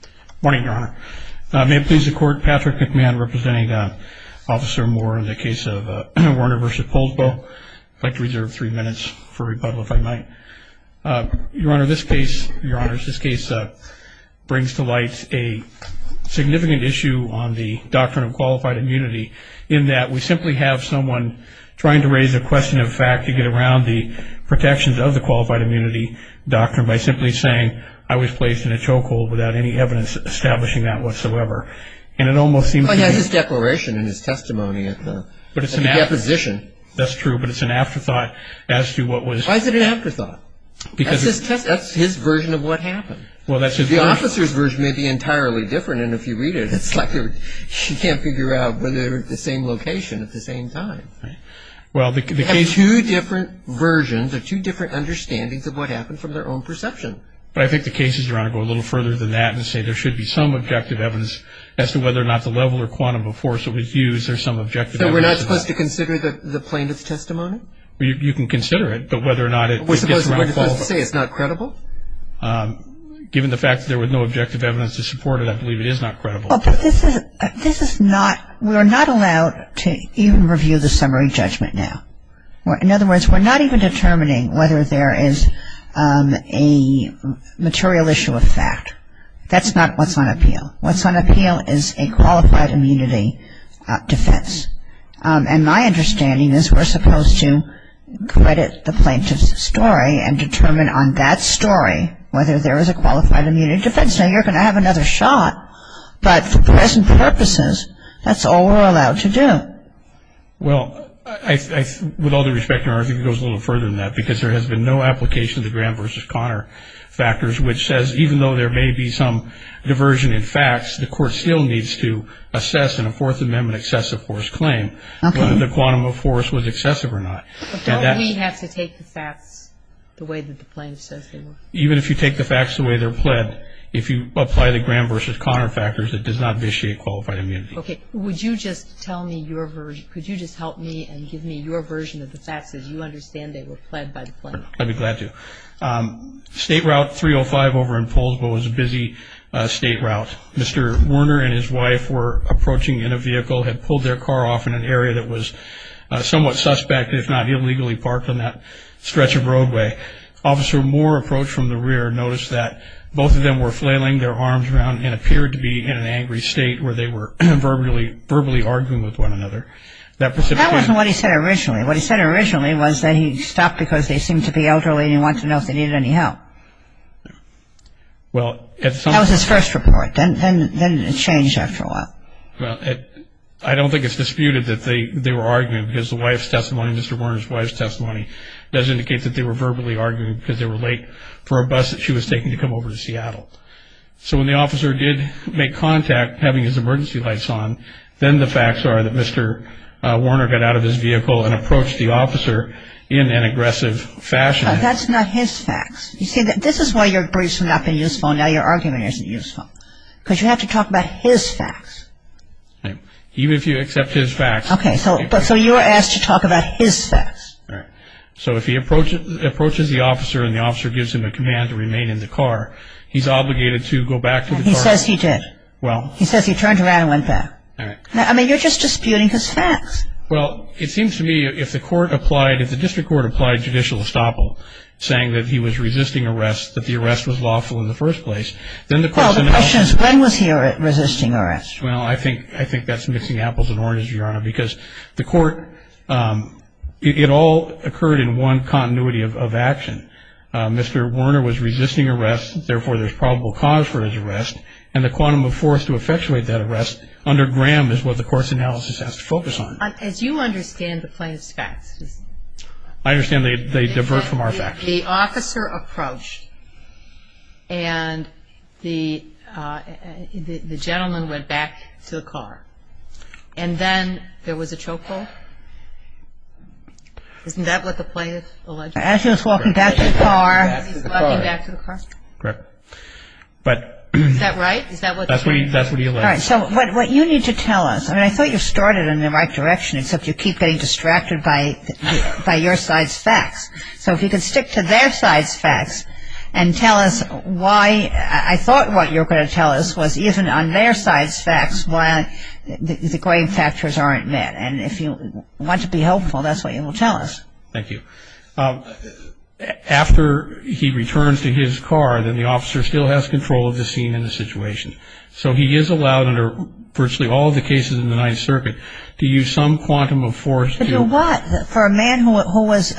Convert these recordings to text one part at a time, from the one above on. Good morning, Your Honor. May it please the Court, Patrick McMahon representing Officer Moore in the case of Werner v. Poulsbo. I'd like to reserve three minutes for rebuttal if I might. Your Honor, this case brings to light a significant issue on the doctrine of qualified immunity in that we simply have someone trying to raise a question of fact to get around the protections of the qualified immunity doctrine by simply saying, I was placed in a chokehold without any evidence establishing that whatsoever. And it almost seems to me... Well, he has his declaration in his testimony at the deposition. That's true, but it's an afterthought as to what was... Why is it an afterthought? That's his version of what happened. Well, that's his version. The officer's version may be entirely different, and if you read it, it's like you can't figure out whether they're at the same location at the same time. Well, the case... They have two different versions or two different understandings of what happened from their own perception. But I think the cases, Your Honor, go a little further than that and say there should be some objective evidence as to whether or not the level or quantum of force that was used or some objective evidence... So we're not supposed to consider the plaintiff's testimony? You can consider it, but whether or not it... We're supposed to say it's not credible? Given the fact that there was no objective evidence to support it, I believe it is not credible. Well, but this is not... We're not allowed to even review the summary judgment now. In other words, we're not even determining whether there is a material issue of fact. That's not what's on appeal. What's on appeal is a qualified immunity defense. And my understanding is we're supposed to credit the plaintiff's story and determine on that story whether there is a qualified immunity defense. Now, you're going to have another shot, but for present purposes, that's all we're allowed to do. Well, with all due respect, Your Honor, I think it goes a little further than that because there has been no application of the Graham v. Conner factors, which says even though there may be some diversion in facts, the court still needs to assess in a Fourth Amendment excessive force claim whether the quantum of force was excessive or not. But don't we have to take the facts the way that the plaintiff says they were? Even if you take the facts the way they're pled, if you apply the Graham v. Conner factors, it does not vitiate qualified immunity. Okay. Would you just tell me your version? Could you just help me and give me your version of the facts as you understand they were pled by the plaintiff? I'd be glad to. State Route 305 over in Poulsbo was a busy state route. Mr. Warner and his wife were approaching in a vehicle, had pulled their car off in an area that was somewhat suspect, if not illegally parked on that stretch of roadway. Officer Moore approached from the rear and noticed that both of them were flailing their arms around and appeared to be in an angry state where they were verbally arguing with one another. That wasn't what he said originally. What he said originally was that he stopped because they seemed to be elderly and he wanted to know if they needed any help. That was his first report. Then it changed after a while. I don't think it's disputed that they were arguing because the wife's testimony, Mr. Warner's wife's testimony does indicate that they were verbally arguing because they were late for a bus that she was taking to come over to Seattle. So when the officer did make contact having his emergency lights on, then the facts are that Mr. Warner got out of his vehicle and approached the officer in an aggressive fashion. That's not his facts. You see, this is why your briefs have not been useful and now your argument isn't useful because you have to talk about his facts. Even if you accept his facts. Okay. So you're asked to talk about his facts. All right. So if he approaches the officer and the officer gives him a command to remain in the car, he's obligated to go back to the car. He says he did. Well. He says he turned around and went back. All right. I mean, you're just disputing his facts. Well, it seems to me if the court applied, if the district court applied judicial estoppel, saying that he was resisting arrest, that the arrest was lawful in the first place, then the question is when was he resisting arrest? Well, I think that's mixing apples and oranges, Your Honor, because the court, it all occurred in one continuity of action. Mr. Warner was resisting arrest, therefore there's probable cause for his arrest, and the quantum of force to effectuate that arrest under Graham is what the court's analysis has to focus on. As you understand the plaintiff's facts. I understand they divert from our facts. The officer approached and the gentleman went back to the car, and then there was a choke hold. Isn't that what the plaintiff alleged? As he was walking back to the car. As he was walking back to the car. Correct. Is that right? Is that what the plaintiff alleged? That's what he alleged. All right. So what you need to tell us, I mean, I thought you started in the right direction, except you keep getting distracted by your side's facts. So if you could stick to their side's facts and tell us why, I thought what you were going to tell us was even on their side's facts, why the grave factors aren't met. And if you want to be helpful, that's what you will tell us. Thank you. After he returns to his car, then the officer still has control of the scene and the situation. So he is allowed under virtually all the cases in the Ninth Circuit to use some quantum of force to For what? For a man who was –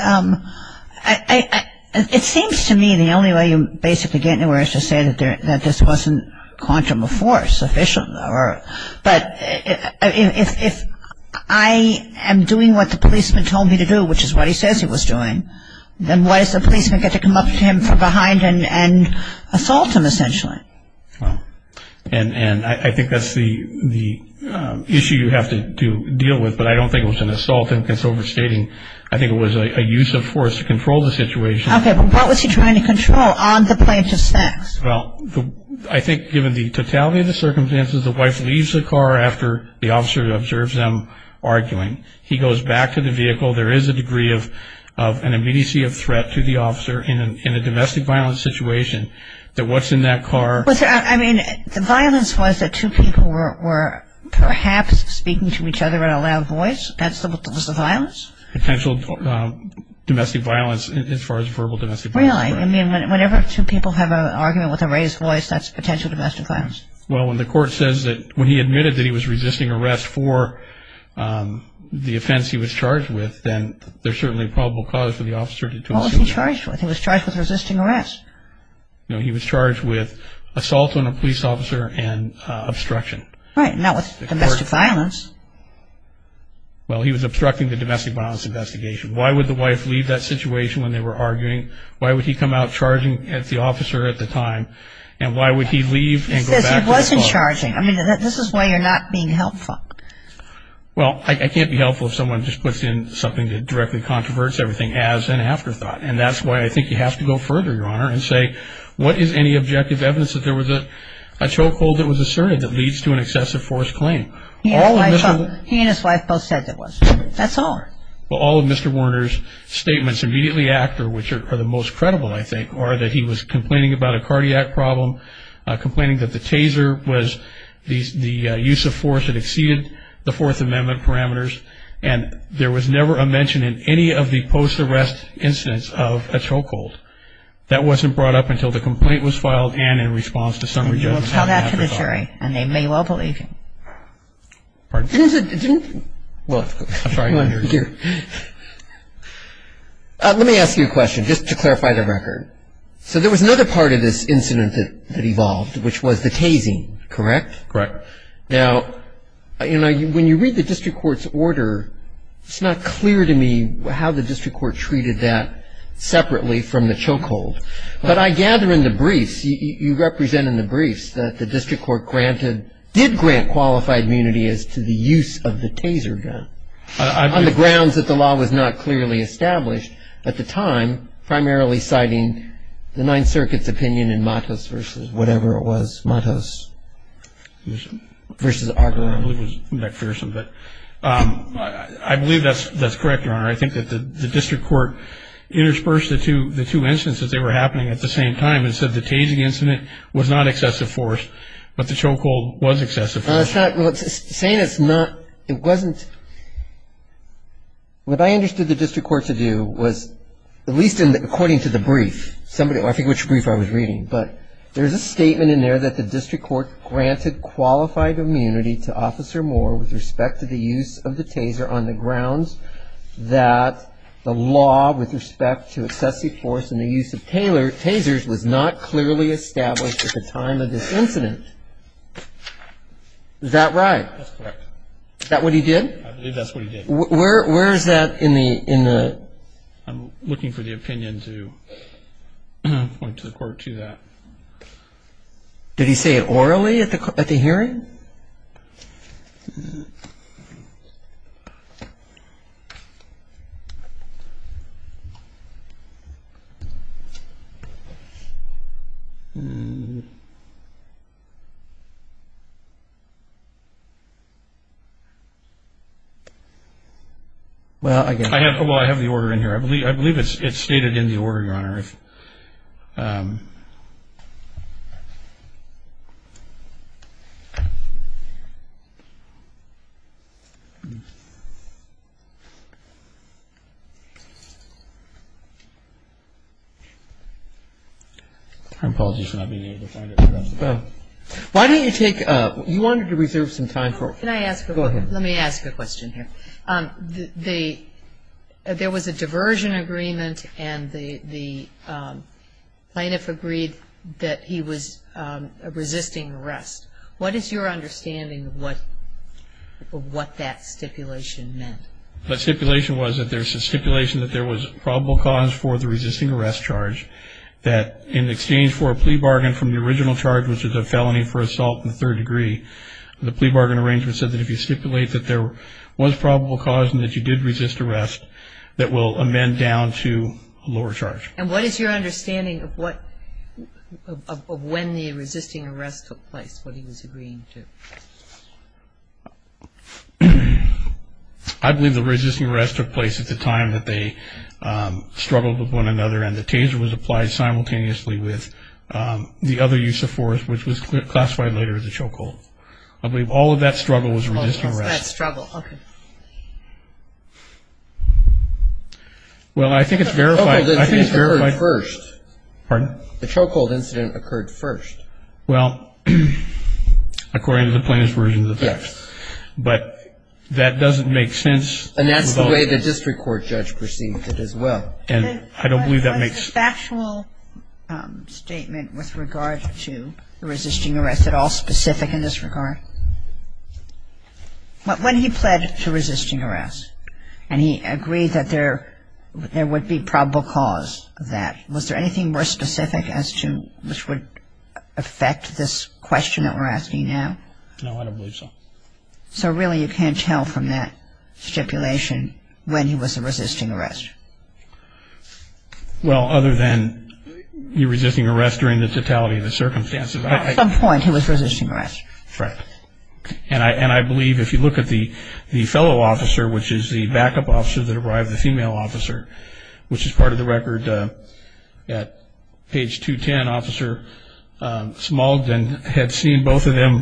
it seems to me the only way you basically get anywhere is to say that this wasn't quantum of force, sufficient or – but if I am doing what the policeman told me to do, which is what he says he was doing, then why does the policeman get to come up to him from behind and assault him essentially? And I think that's the issue you have to deal with, but I don't think it was an assault and it's overstating. I think it was a use of force to control the situation. Okay, but what was he trying to control on the plaintiff's facts? Well, I think given the totality of the circumstances, the wife leaves the car after the officer observes them arguing. He goes back to the vehicle. There is a degree of an immediacy of threat to the officer in a domestic violence situation that what's in that car – That's the violence? Potential domestic violence as far as verbal domestic violence. Really? I mean, whenever two people have an argument with a raised voice, that's potential domestic violence. Well, when the court says that – when he admitted that he was resisting arrest for the offense he was charged with, then there's certainly probable cause for the officer to – What was he charged with? He was charged with resisting arrest. No, he was charged with assault on a police officer and obstruction. Right, not with domestic violence. Well, he was obstructing the domestic violence investigation. Why would the wife leave that situation when they were arguing? Why would he come out charging at the officer at the time? And why would he leave and go back to the car? He says he wasn't charging. I mean, this is why you're not being helpful. Well, I can't be helpful if someone just puts in something that directly controverts everything as an afterthought. And that's why I think you have to go further, Your Honor, and say, what is any objective evidence that there was a chokehold that was asserted that leads to an excessive force claim? He and his wife both said there was. That's all. Well, all of Mr. Werner's statements immediately after, which are the most credible, I think, are that he was complaining about a cardiac problem, complaining that the taser was – the use of force had exceeded the Fourth Amendment parameters, and there was never a mention in any of the post-arrest incidents of a chokehold. That wasn't brought up until the complaint was filed and in response to summary judgment. And you will tell that to the jury, and they may well believe you. Pardon? Well, let me ask you a question, just to clarify the record. So there was another part of this incident that evolved, which was the tasing, correct? Correct. Now, when you read the district court's order, it's not clear to me how the district court treated that separately from the chokehold. But I gather in the briefs, you represent in the briefs, that the district court granted – did grant qualified immunity as to the use of the taser gun, on the grounds that the law was not clearly established at the time, primarily citing the Ninth Circuit's opinion in Matos v. whatever it was, Matos v. Argeron. I believe that's correct, Your Honor. I think that the district court interspersed the two instances they were happening at the same time and said the tasing incident was not excessive force, but the chokehold was excessive force. Well, it's not – saying it's not – it wasn't – what I understood the district court to do was, at least according to the brief, I think which brief I was reading, but there's a statement in there that the district court granted qualified immunity to Officer Moore with respect to the use of the taser on the grounds that the law with respect to excessive force and the use of tasers was not clearly established at the time of this incident. Is that right? That's correct. Is that what he did? I believe that's what he did. Where is that in the – in the – Did he say it orally at the hearing? Well, I guess – I don't know what's going on here. I believe it's stated in the order, Your Honor. I apologize for not being able to find it. Why don't you take – you wanted to reserve some time for – Can I ask – Go ahead. Let me ask a question here. There was a diversion agreement and the plaintiff agreed that he was resisting arrest. What is your understanding of what that stipulation meant? The stipulation was that there's a stipulation that there was probable cause for the resisting arrest charge, that in exchange for a plea bargain from the original charge, which is a felony for assault in the third degree, the plea bargain arrangement said that if you stipulate that there was probable cause and that you did resist arrest, that will amend down to a lower charge. And what is your understanding of what – of when the resisting arrest took place, what he was agreeing to? I believe the resisting arrest took place at the time that they struggled with one another and the taser was applied simultaneously with the other use of force, which was classified later as a chokehold. I believe all of that struggle was resisting arrest. What was that struggle? Okay. Well, I think it's verified – The chokehold incident occurred first. Pardon? The chokehold incident occurred first. Well, according to the plaintiff's version of the text. Yes. But that doesn't make sense. And that's the way the district court judge perceived it as well. And I don't believe that makes sense. Was the factual statement with regard to the resisting arrest at all specific in this regard? When he pled to resisting arrest and he agreed that there would be probable cause of that, was there anything more specific as to which would affect this question that we're asking now? No, I don't believe so. So really you can't tell from that stipulation when he was a resisting arrest. Well, other than the resisting arrest during the totality of the circumstances. At some point he was resisting arrest. Right. And I believe if you look at the fellow officer, which is the backup officer that arrived, the female officer, which is part of the record at page 210, Officer Smalden had seen both of them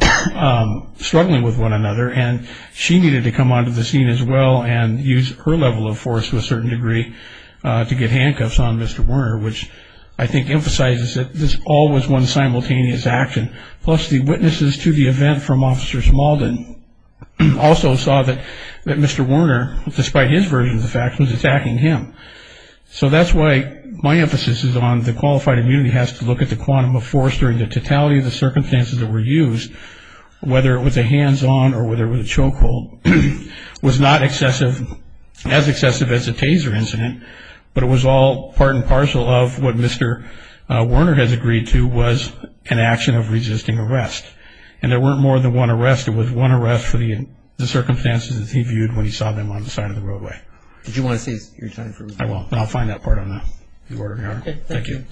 struggling with one another, and she needed to come onto the scene as well and use her level of force to a certain degree to get handcuffs on Mr. Warner, which I think emphasizes that this all was one simultaneous action. Plus the witnesses to the event from Officer Smalden also saw that Mr. Warner, despite his version of the facts, was attacking him. So that's why my emphasis is on the qualified immunity has to look at the quantum of force during the totality of the circumstances that were used, whether it was a hands-on or whether it was a choke hold, was not as excessive as a Taser incident, but it was all part and parcel of what Mr. Warner has agreed to was an action of resisting arrest. And there weren't more than one arrest. It was one arrest for the circumstances that he viewed when he saw them on the side of the roadway. Did you want to save your time? I will. I'll find that part on the recording. Okay. Thank you.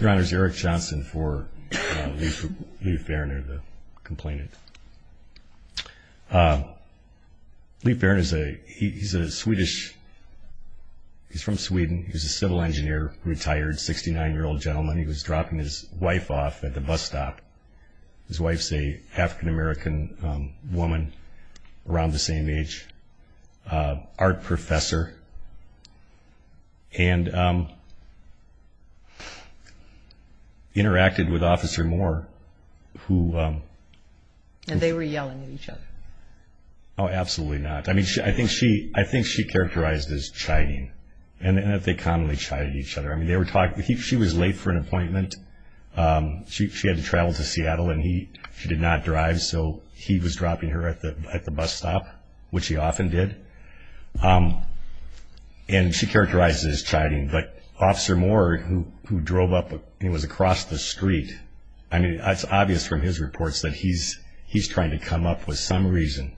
Your Honor, it's Eric Johnson for Lief Verner, the complainant. Lief Verner, he's a Swedish, he's from Sweden. He was a civil engineer, retired 69-year-old gentleman. He was dropping his wife off at the bus stop. His wife's an African-American woman around the same age, art professor, and interacted with Officer Moore, who... And they were yelling at each other. Oh, absolutely not. I think she characterized as chiding, and that they commonly chided each other. She was late for an appointment. She had to travel to Seattle, and she did not drive, so he was dropping her at the bus stop, which he often did. And she characterized it as chiding. But Officer Moore, who drove up and was across the street, I mean, it's obvious from his reports that he's trying to come up with some reason,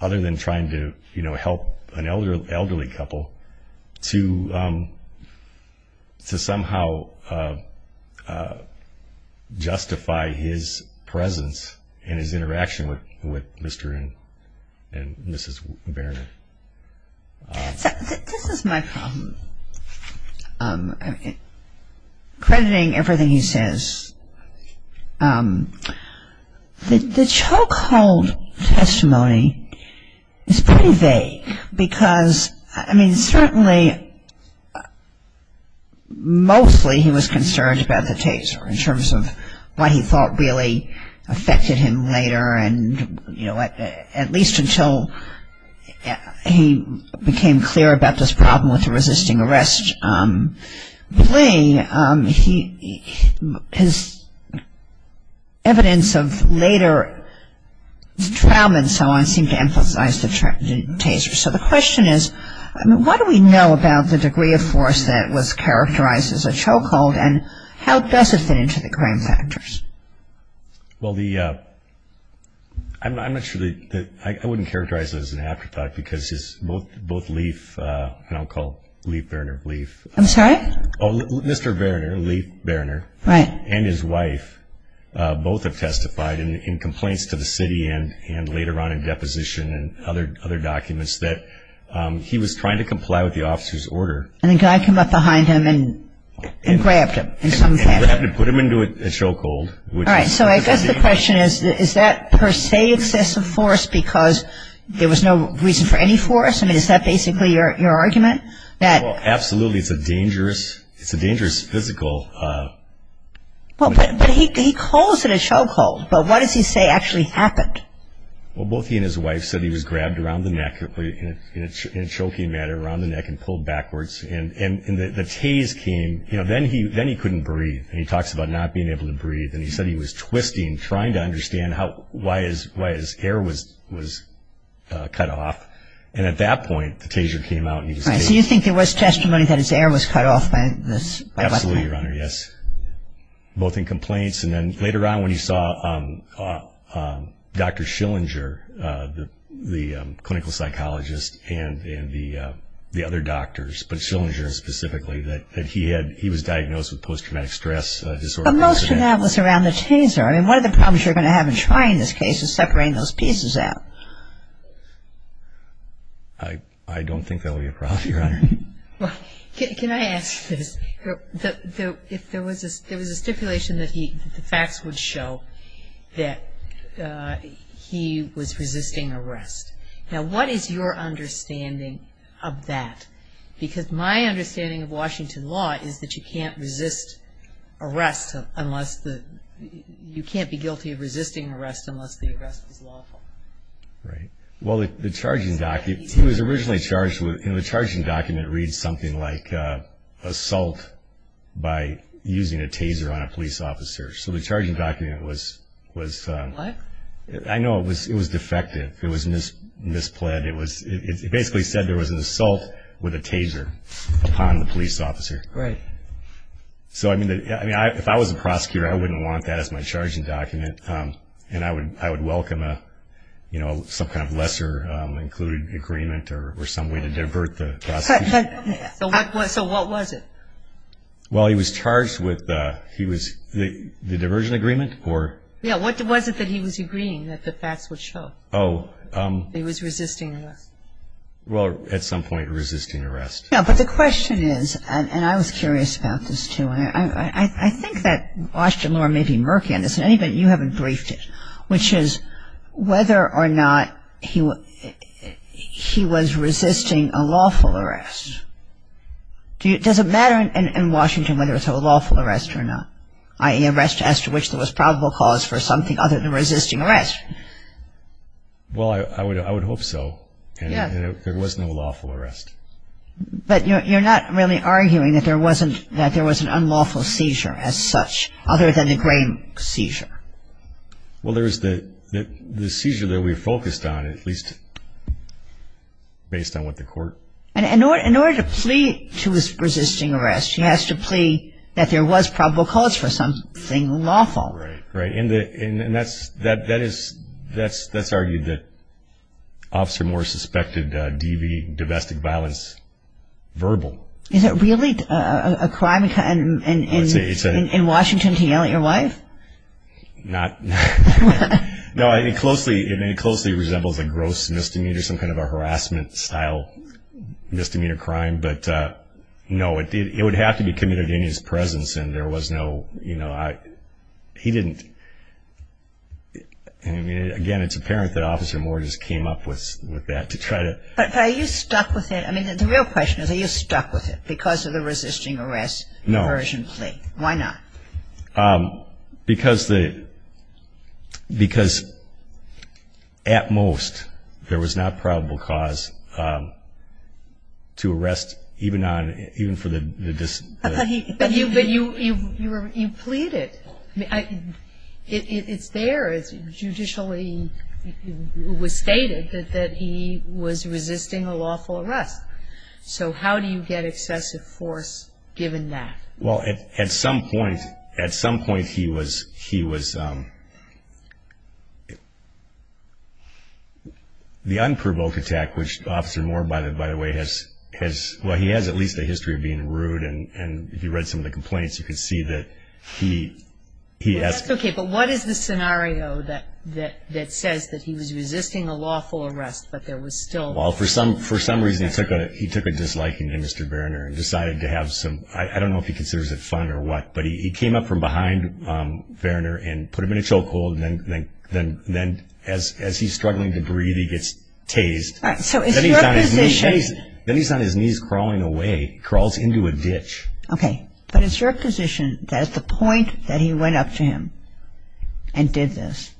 other than trying to help an elderly couple, to somehow justify his presence and his interaction with Mr. and Mrs. Verner. This is my problem, crediting everything he says. The chokehold testimony is pretty vague, because, I mean, certainly, mostly he was concerned about the taser, in terms of what he thought really affected him later, and at least until he became clear about this problem with the resisting arrest plea, his evidence of later trauma and so on seemed to emphasize the taser. So the question is, I mean, what do we know about the degree of force that was characterized as a chokehold, and how does it fit into the crime factors? Well, I'm not sure that – I wouldn't characterize it as an afterthought, because both Lief – and I'll call Lief Verner Lief. I'm sorry? Mr. Verner, Lief Verner. Right. And his wife both have testified in complaints to the city and later on in deposition and other documents that he was trying to comply with the officer's order. And the guy came up behind him and grabbed him in some fashion. And put him into a chokehold. All right, so I guess the question is, is that per se excessive force because there was no reason for any force? I mean, is that basically your argument? Well, absolutely. It's a dangerous – it's a dangerous physical – Well, but he calls it a chokehold. But what does he say actually happened? Well, both he and his wife said he was grabbed around the neck, in a choking manner, around the neck and pulled backwards. And the tase came – you know, then he couldn't breathe. And he talks about not being able to breathe. And he said he was twisting, trying to understand why his air was cut off. And at that point, the taser came out. All right, so you think there was testimony that his air was cut off by the weapon? Absolutely, Your Honor, yes. Both in complaints and then later on when he saw Dr. Schillinger, the clinical psychologist, and the other doctors, but Schillinger specifically, that he had – he was diagnosed with post-traumatic stress disorder. But most of that was around the taser. I mean, one of the problems you're going to have in trying this case is separating those pieces out. I don't think that will be a problem, Your Honor. Can I ask this? If there was a stipulation that he – the facts would show that he was resisting arrest. Now, what is your understanding of that? Because my understanding of Washington law is that you can't resist arrest unless the – you can't be guilty of resisting arrest unless the arrest is lawful. Right. Well, the charging document – he was originally charged with – and the charging document reads something like assault by using a taser on a police officer. So the charging document was – What? I know it was defective. It was mispled. It basically said there was an assault with a taser upon the police officer. Right. So, I mean, if I was a prosecutor, I wouldn't want that as my charging document, and I would welcome a – you know, some kind of lesser included agreement or some way to divert the prosecution. So what was it? Well, he was charged with – he was – the diversion agreement or – Yeah. Was it that he was agreeing that the facts would show that he was resisting arrest? Well, at some point resisting arrest. Yeah, but the question is – and I was curious about this, too. I think that Washington Law may be murky on this. In any event, you haven't briefed it, which is whether or not he was resisting a lawful arrest. Does it matter in Washington whether it's a lawful arrest or not, i.e. arrest as to which there was probable cause for something other than resisting arrest? Well, I would hope so. Yeah. There was no lawful arrest. But you're not really arguing that there wasn't – that there was an unlawful seizure as such other than the grain seizure. Well, there was the seizure that we focused on at least based on what the court – In order to plea to his resisting arrest, he has to plea that there was probable cause for something lawful. Right, right. And that's argued that Officer Morris suspected DV, domestic violence, verbal. Is it really a crime in Washington to yell at your wife? Not – no. It closely resembles a gross misdemeanor, some kind of a harassment-style misdemeanor crime. But, no, it would have to be committed in his presence, and there was no – he didn't – and, again, it's apparent that Officer Morris came up with that to try to – But are you stuck with it? I mean, the real question is are you stuck with it because of the resisting arrest version plea? No. Why not? Because the – because at most there was not probable cause to arrest even on – even for the – But you pleaded. It's there. It's judicially stated that he was resisting a lawful arrest. So how do you get excessive force given that? Well, at some point he was – the unprovoked attack, which Officer Moore, by the way, has – if you read some of the complaints, you can see that he has – Okay, but what is the scenario that says that he was resisting a lawful arrest but there was still – Well, for some reason he took a disliking to Mr. Verner and decided to have some – I don't know if he considers it fun or what, but he came up from behind Verner and put him in a chokehold, and then as he's struggling to breathe, he gets tased. So in your position – Then he's on his knees crawling away. He crawls into a ditch. Okay. But it's your position that at the point that he went up to him and did this,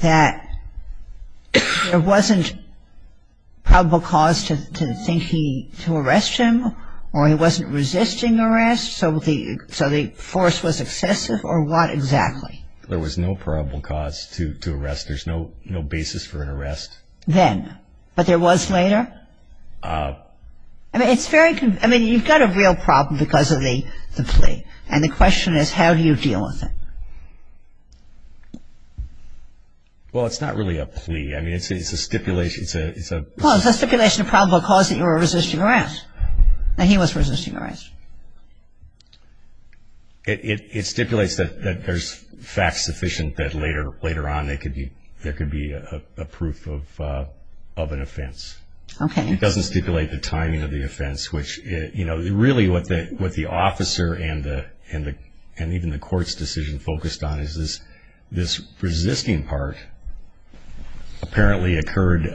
that there wasn't probable cause to think he – to arrest him, or he wasn't resisting arrest, so the force was excessive, or what exactly? There was no probable cause to arrest. There's no basis for an arrest. Then. But there was later? I mean, it's very – I mean, you've got a real problem because of the plea, and the question is how do you deal with it? Well, it's not really a plea. I mean, it's a stipulation. It's a – Well, it's a stipulation of probable cause that you were resisting arrest, that he was resisting arrest. It stipulates that there's facts sufficient that later on there could be a proof of an offense. Okay. It doesn't stipulate the timing of the offense, which, you know, really what the officer and even the court's decision focused on is this resisting part apparently occurred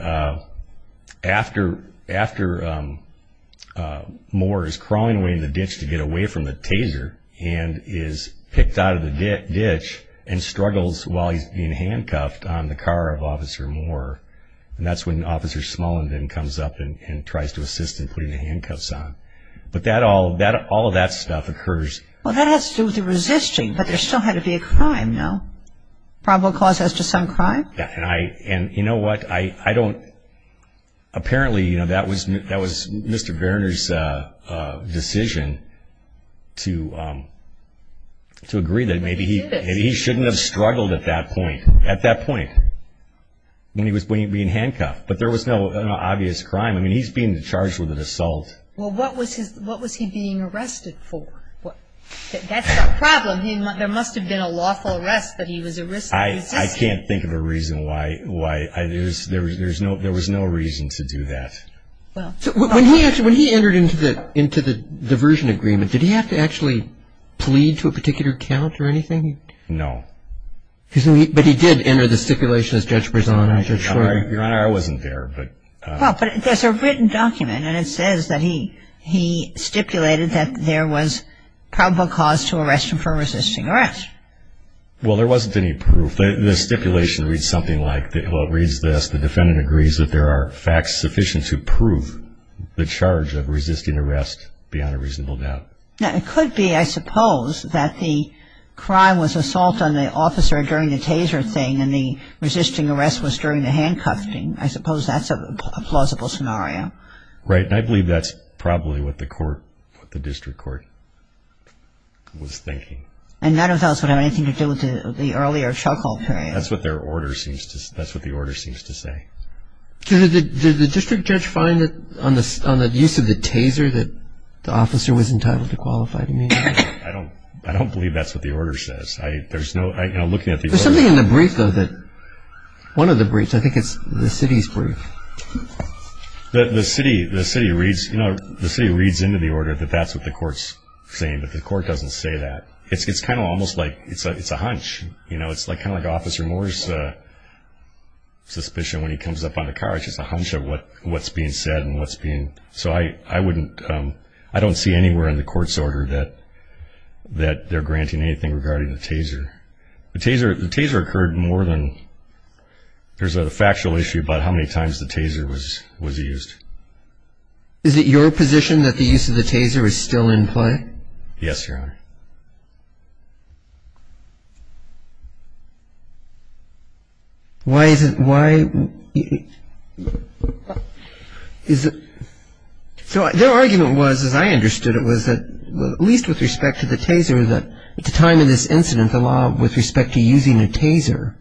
after Moore is crawling away in the ditch to get away from the Taser and is picked out of the ditch and struggles while he's being handcuffed on the car of Officer Moore. And that's when Officer Smullin then comes up and tries to assist in putting the handcuffs on. But that all – all of that stuff occurs. Well, that has to do with the resisting, but there still had to be a crime, no? Probable cause as to some crime? Yeah, and I – and you know what? I don't – apparently, you know, that was Mr. Verner's decision to agree that maybe he – But he did it. Maybe he shouldn't have struggled at that point. At that point when he was being handcuffed. But there was no obvious crime. I mean, he's being charged with an assault. Well, what was his – what was he being arrested for? That's the problem. There must have been a lawful arrest, but he was arrested resisting. I can't think of a reason why – there was no reason to do that. When he entered into the diversion agreement, did he have to actually plead to a particular count or anything? No. But he did enter the stipulation, as Judge Bresan and I are sure – Your Honor, I wasn't there, but – Well, but there's a written document, and it says that he stipulated that there was probable cause to arrest him for resisting arrest. Well, there wasn't any proof. The stipulation reads something like – well, it reads this, the defendant agrees that there are facts sufficient to prove the charge of resisting arrest beyond a reasonable doubt. Now, it could be, I suppose, that the crime was assault on the officer during the taser thing and the resisting arrest was during the handcuffing. I suppose that's a plausible scenario. Right, and I believe that's probably what the court – what the district court was thinking. And none of those would have anything to do with the earlier chokehold period. That's what their order seems to – that's what the order seems to say. Did the district judge find that on the use of the taser that the officer was entitled to qualify to meet? I don't believe that's what the order says. There's something in the brief, though, that – one of the briefs, I think it's the city's brief. The city reads into the order that that's what the court's saying, but the court doesn't say that. It's kind of almost like – it's a hunch. It's kind of like Officer Moore's suspicion when he comes up on the car. It's just a hunch of what's being said and what's being – so I wouldn't – I don't see anywhere in the court's order that they're granting anything regarding the taser. The taser occurred more than – there's a factual issue about how many times the taser was used. Is it your position that the use of the taser is still in play? Yes, Your Honor. Why is it – why – is it – so their argument was, as I understood it, was that at least with respect to the taser that at the time of this incident, the law with respect to using a taser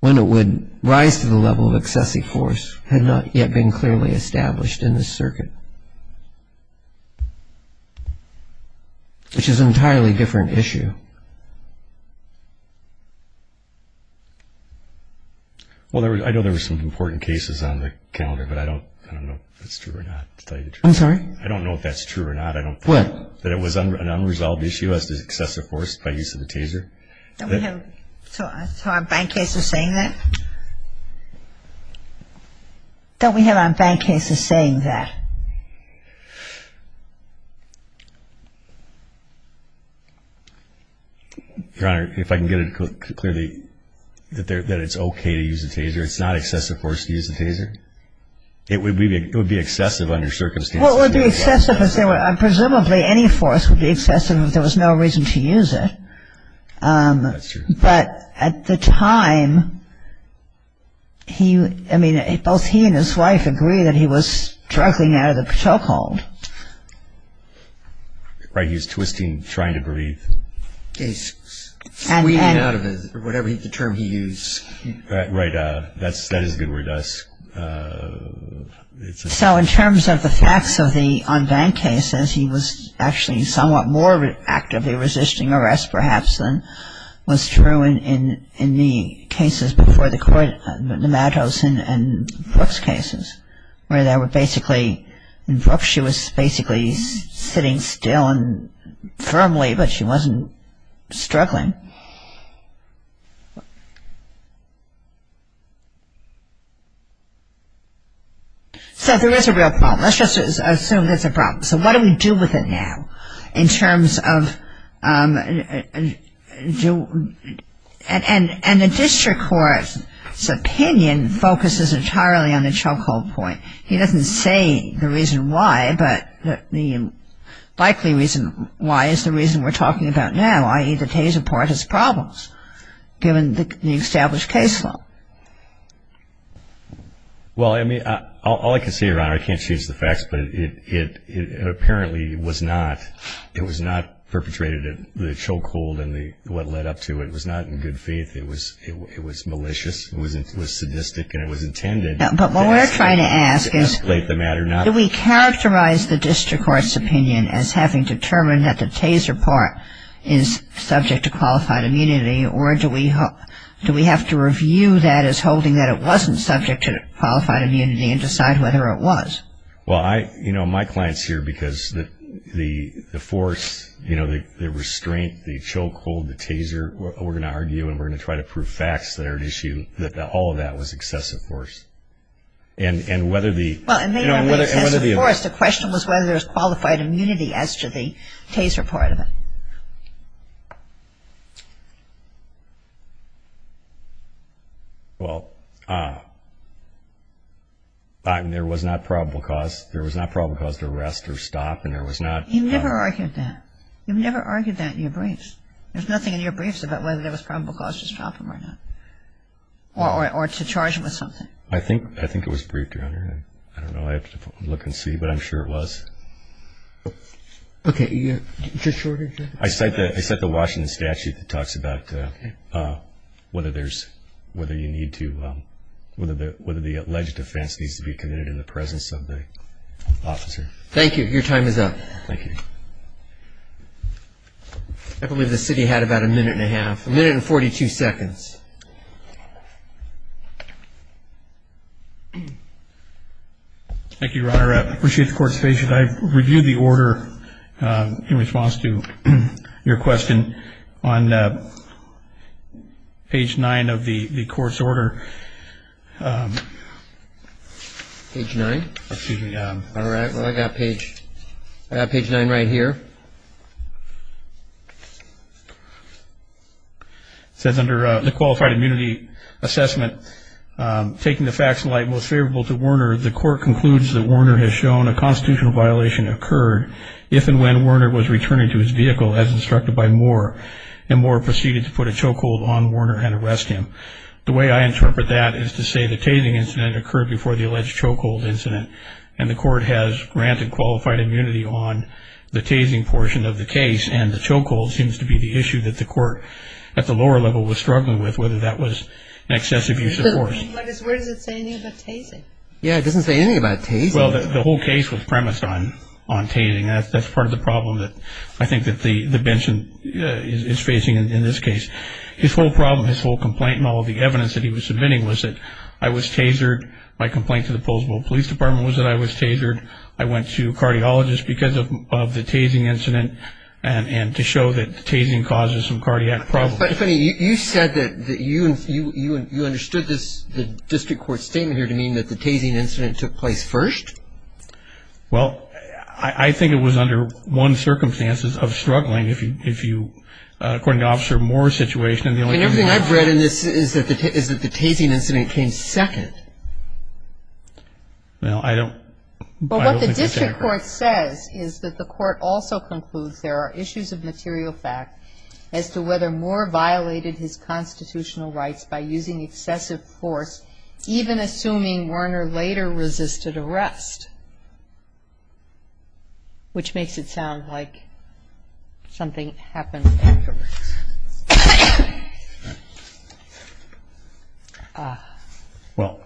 when it would rise to the level of excessive force had not yet been clearly established in this circuit, which is an entirely different issue. Well, I know there were some important cases on the calendar, but I don't know if that's true or not. I'm sorry? I don't know if that's true or not. What? That it was an unresolved issue as to excessive force by use of the taser. Don't we have – so our bank case is saying that? Don't we have our bank case is saying that? Your Honor, if I can get it clearly that it's okay to use a taser, it's not excessive force to use a taser. It would be excessive under circumstances. Presumably any force would be excessive if there was no reason to use it. That's true. But at the time, he – I mean, both he and his wife agree that he was struggling out of the choke hold. Right. He was twisting, trying to breathe. He's squeaking out of it, or whatever the term he used. Right. That is a good word, dusk. So in terms of the facts of the unbanked cases, he was actually somewhat more actively resisting arrest, perhaps, than was true in the cases before the court, the Mattos and Brooks cases, where they were basically – in Brooks, she was basically sitting still and firmly, but she wasn't struggling. So there is a real problem. Let's just assume there's a problem. So what do we do with it now in terms of – and the district court's opinion focuses entirely on the choke hold point. He doesn't say the reason why, but the likely reason why is the reason we're talking about now, i.e., the Taser Part has problems, given the established case law. Well, I mean, all I can say, Your Honor, I can't change the facts, but it apparently was not – it was not perpetrated at the choke hold and what led up to it. It was not in good faith. It was malicious. It was sadistic, and it was intended to escalate the matter. But what we're trying to ask is, Do we characterize the district court's opinion as having determined that the Taser Part is subject to qualified immunity, or do we have to review that as holding that it wasn't subject to qualified immunity and decide whether it was? Well, you know, my client's here because the force, you know, the restraint, the choke hold, the Taser, we're going to argue and we're going to try to prove facts that are at issue that all of that was excessive force. And whether the – Well, it may not be excessive force. The question was whether there was qualified immunity as to the Taser Part of it. Well, there was not probable cause. There was not probable cause to arrest or stop, and there was not – You've never argued that. You've never argued that in your briefs. There's nothing in your briefs about whether there was probable cause to stop him or not, or to charge him with something. I think it was briefed, Your Honor. I don't know. I have to look and see, but I'm sure it was. Okay. Just shortly. I cite the Washington statute that talks about whether there's – whether you need to – whether the alleged offense needs to be committed in the presence of the officer. Thank you. Your time is up. Thank you. I believe the city had about a minute and a half. A minute and 42 seconds. Thank you, Your Honor. I appreciate the court's patience. I've reviewed the order in response to your question on page 9 of the court's order. Page 9? Excuse me. All right. Well, I've got page 9 right here. It says under the qualified immunity assessment, taking the facts in light most favorable to Warner, the court concludes that Warner has shown a constitutional violation occurred if and when Warner was returning to his vehicle as instructed by Moore, and Moore proceeded to put a chokehold on Warner and arrest him. The way I interpret that is to say the tasing incident occurred before the alleged chokehold incident, and the court has granted qualified immunity on the tasing portion of the case, and the chokehold seems to be the issue that the court at the lower level was struggling with, whether that was an excessive use of force. Where does it say anything about tasing? Yeah, it doesn't say anything about tasing. Well, the whole case was premised on tasing. That's part of the problem that I think that the bench is facing in this case. His whole problem, his whole complaint and all of the evidence that he was submitting was that I was tasered. My complaint to the Poulsbo Police Department was that I was tasered. I went to a cardiologist because of the tasing incident and to show that tasing causes some cardiac problems. But, if any, you said that you understood the district court statement here to mean that the tasing incident took place first? Well, I think it was under one circumstance of struggling. According to Officer Moore's situation, and the only thing I've read in this is that the tasing incident came second. Well, I don't think that's accurate. But what the district court says is that the court also concludes there are issues of material fact as to whether Moore violated his constitutional rights by using excessive force, even assuming Werner later resisted arrest, which makes it sound like something happened afterwards. Well,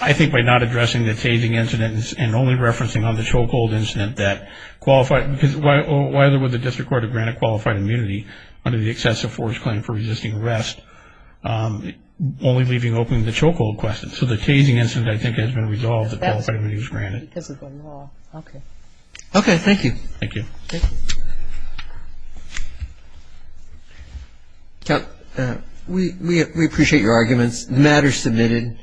I think by not addressing the tasing incident and only referencing on the so-called incident that qualified, because why other would the district court have granted qualified immunity under the excessive force claim for resisting arrest, only leaving open the so-called question. So the tasing incident, I think, has been resolved that qualified immunity was granted. Because of the law. Okay. Okay, thank you. Thank you. Thank you. We appreciate your arguments. The matter is submitted.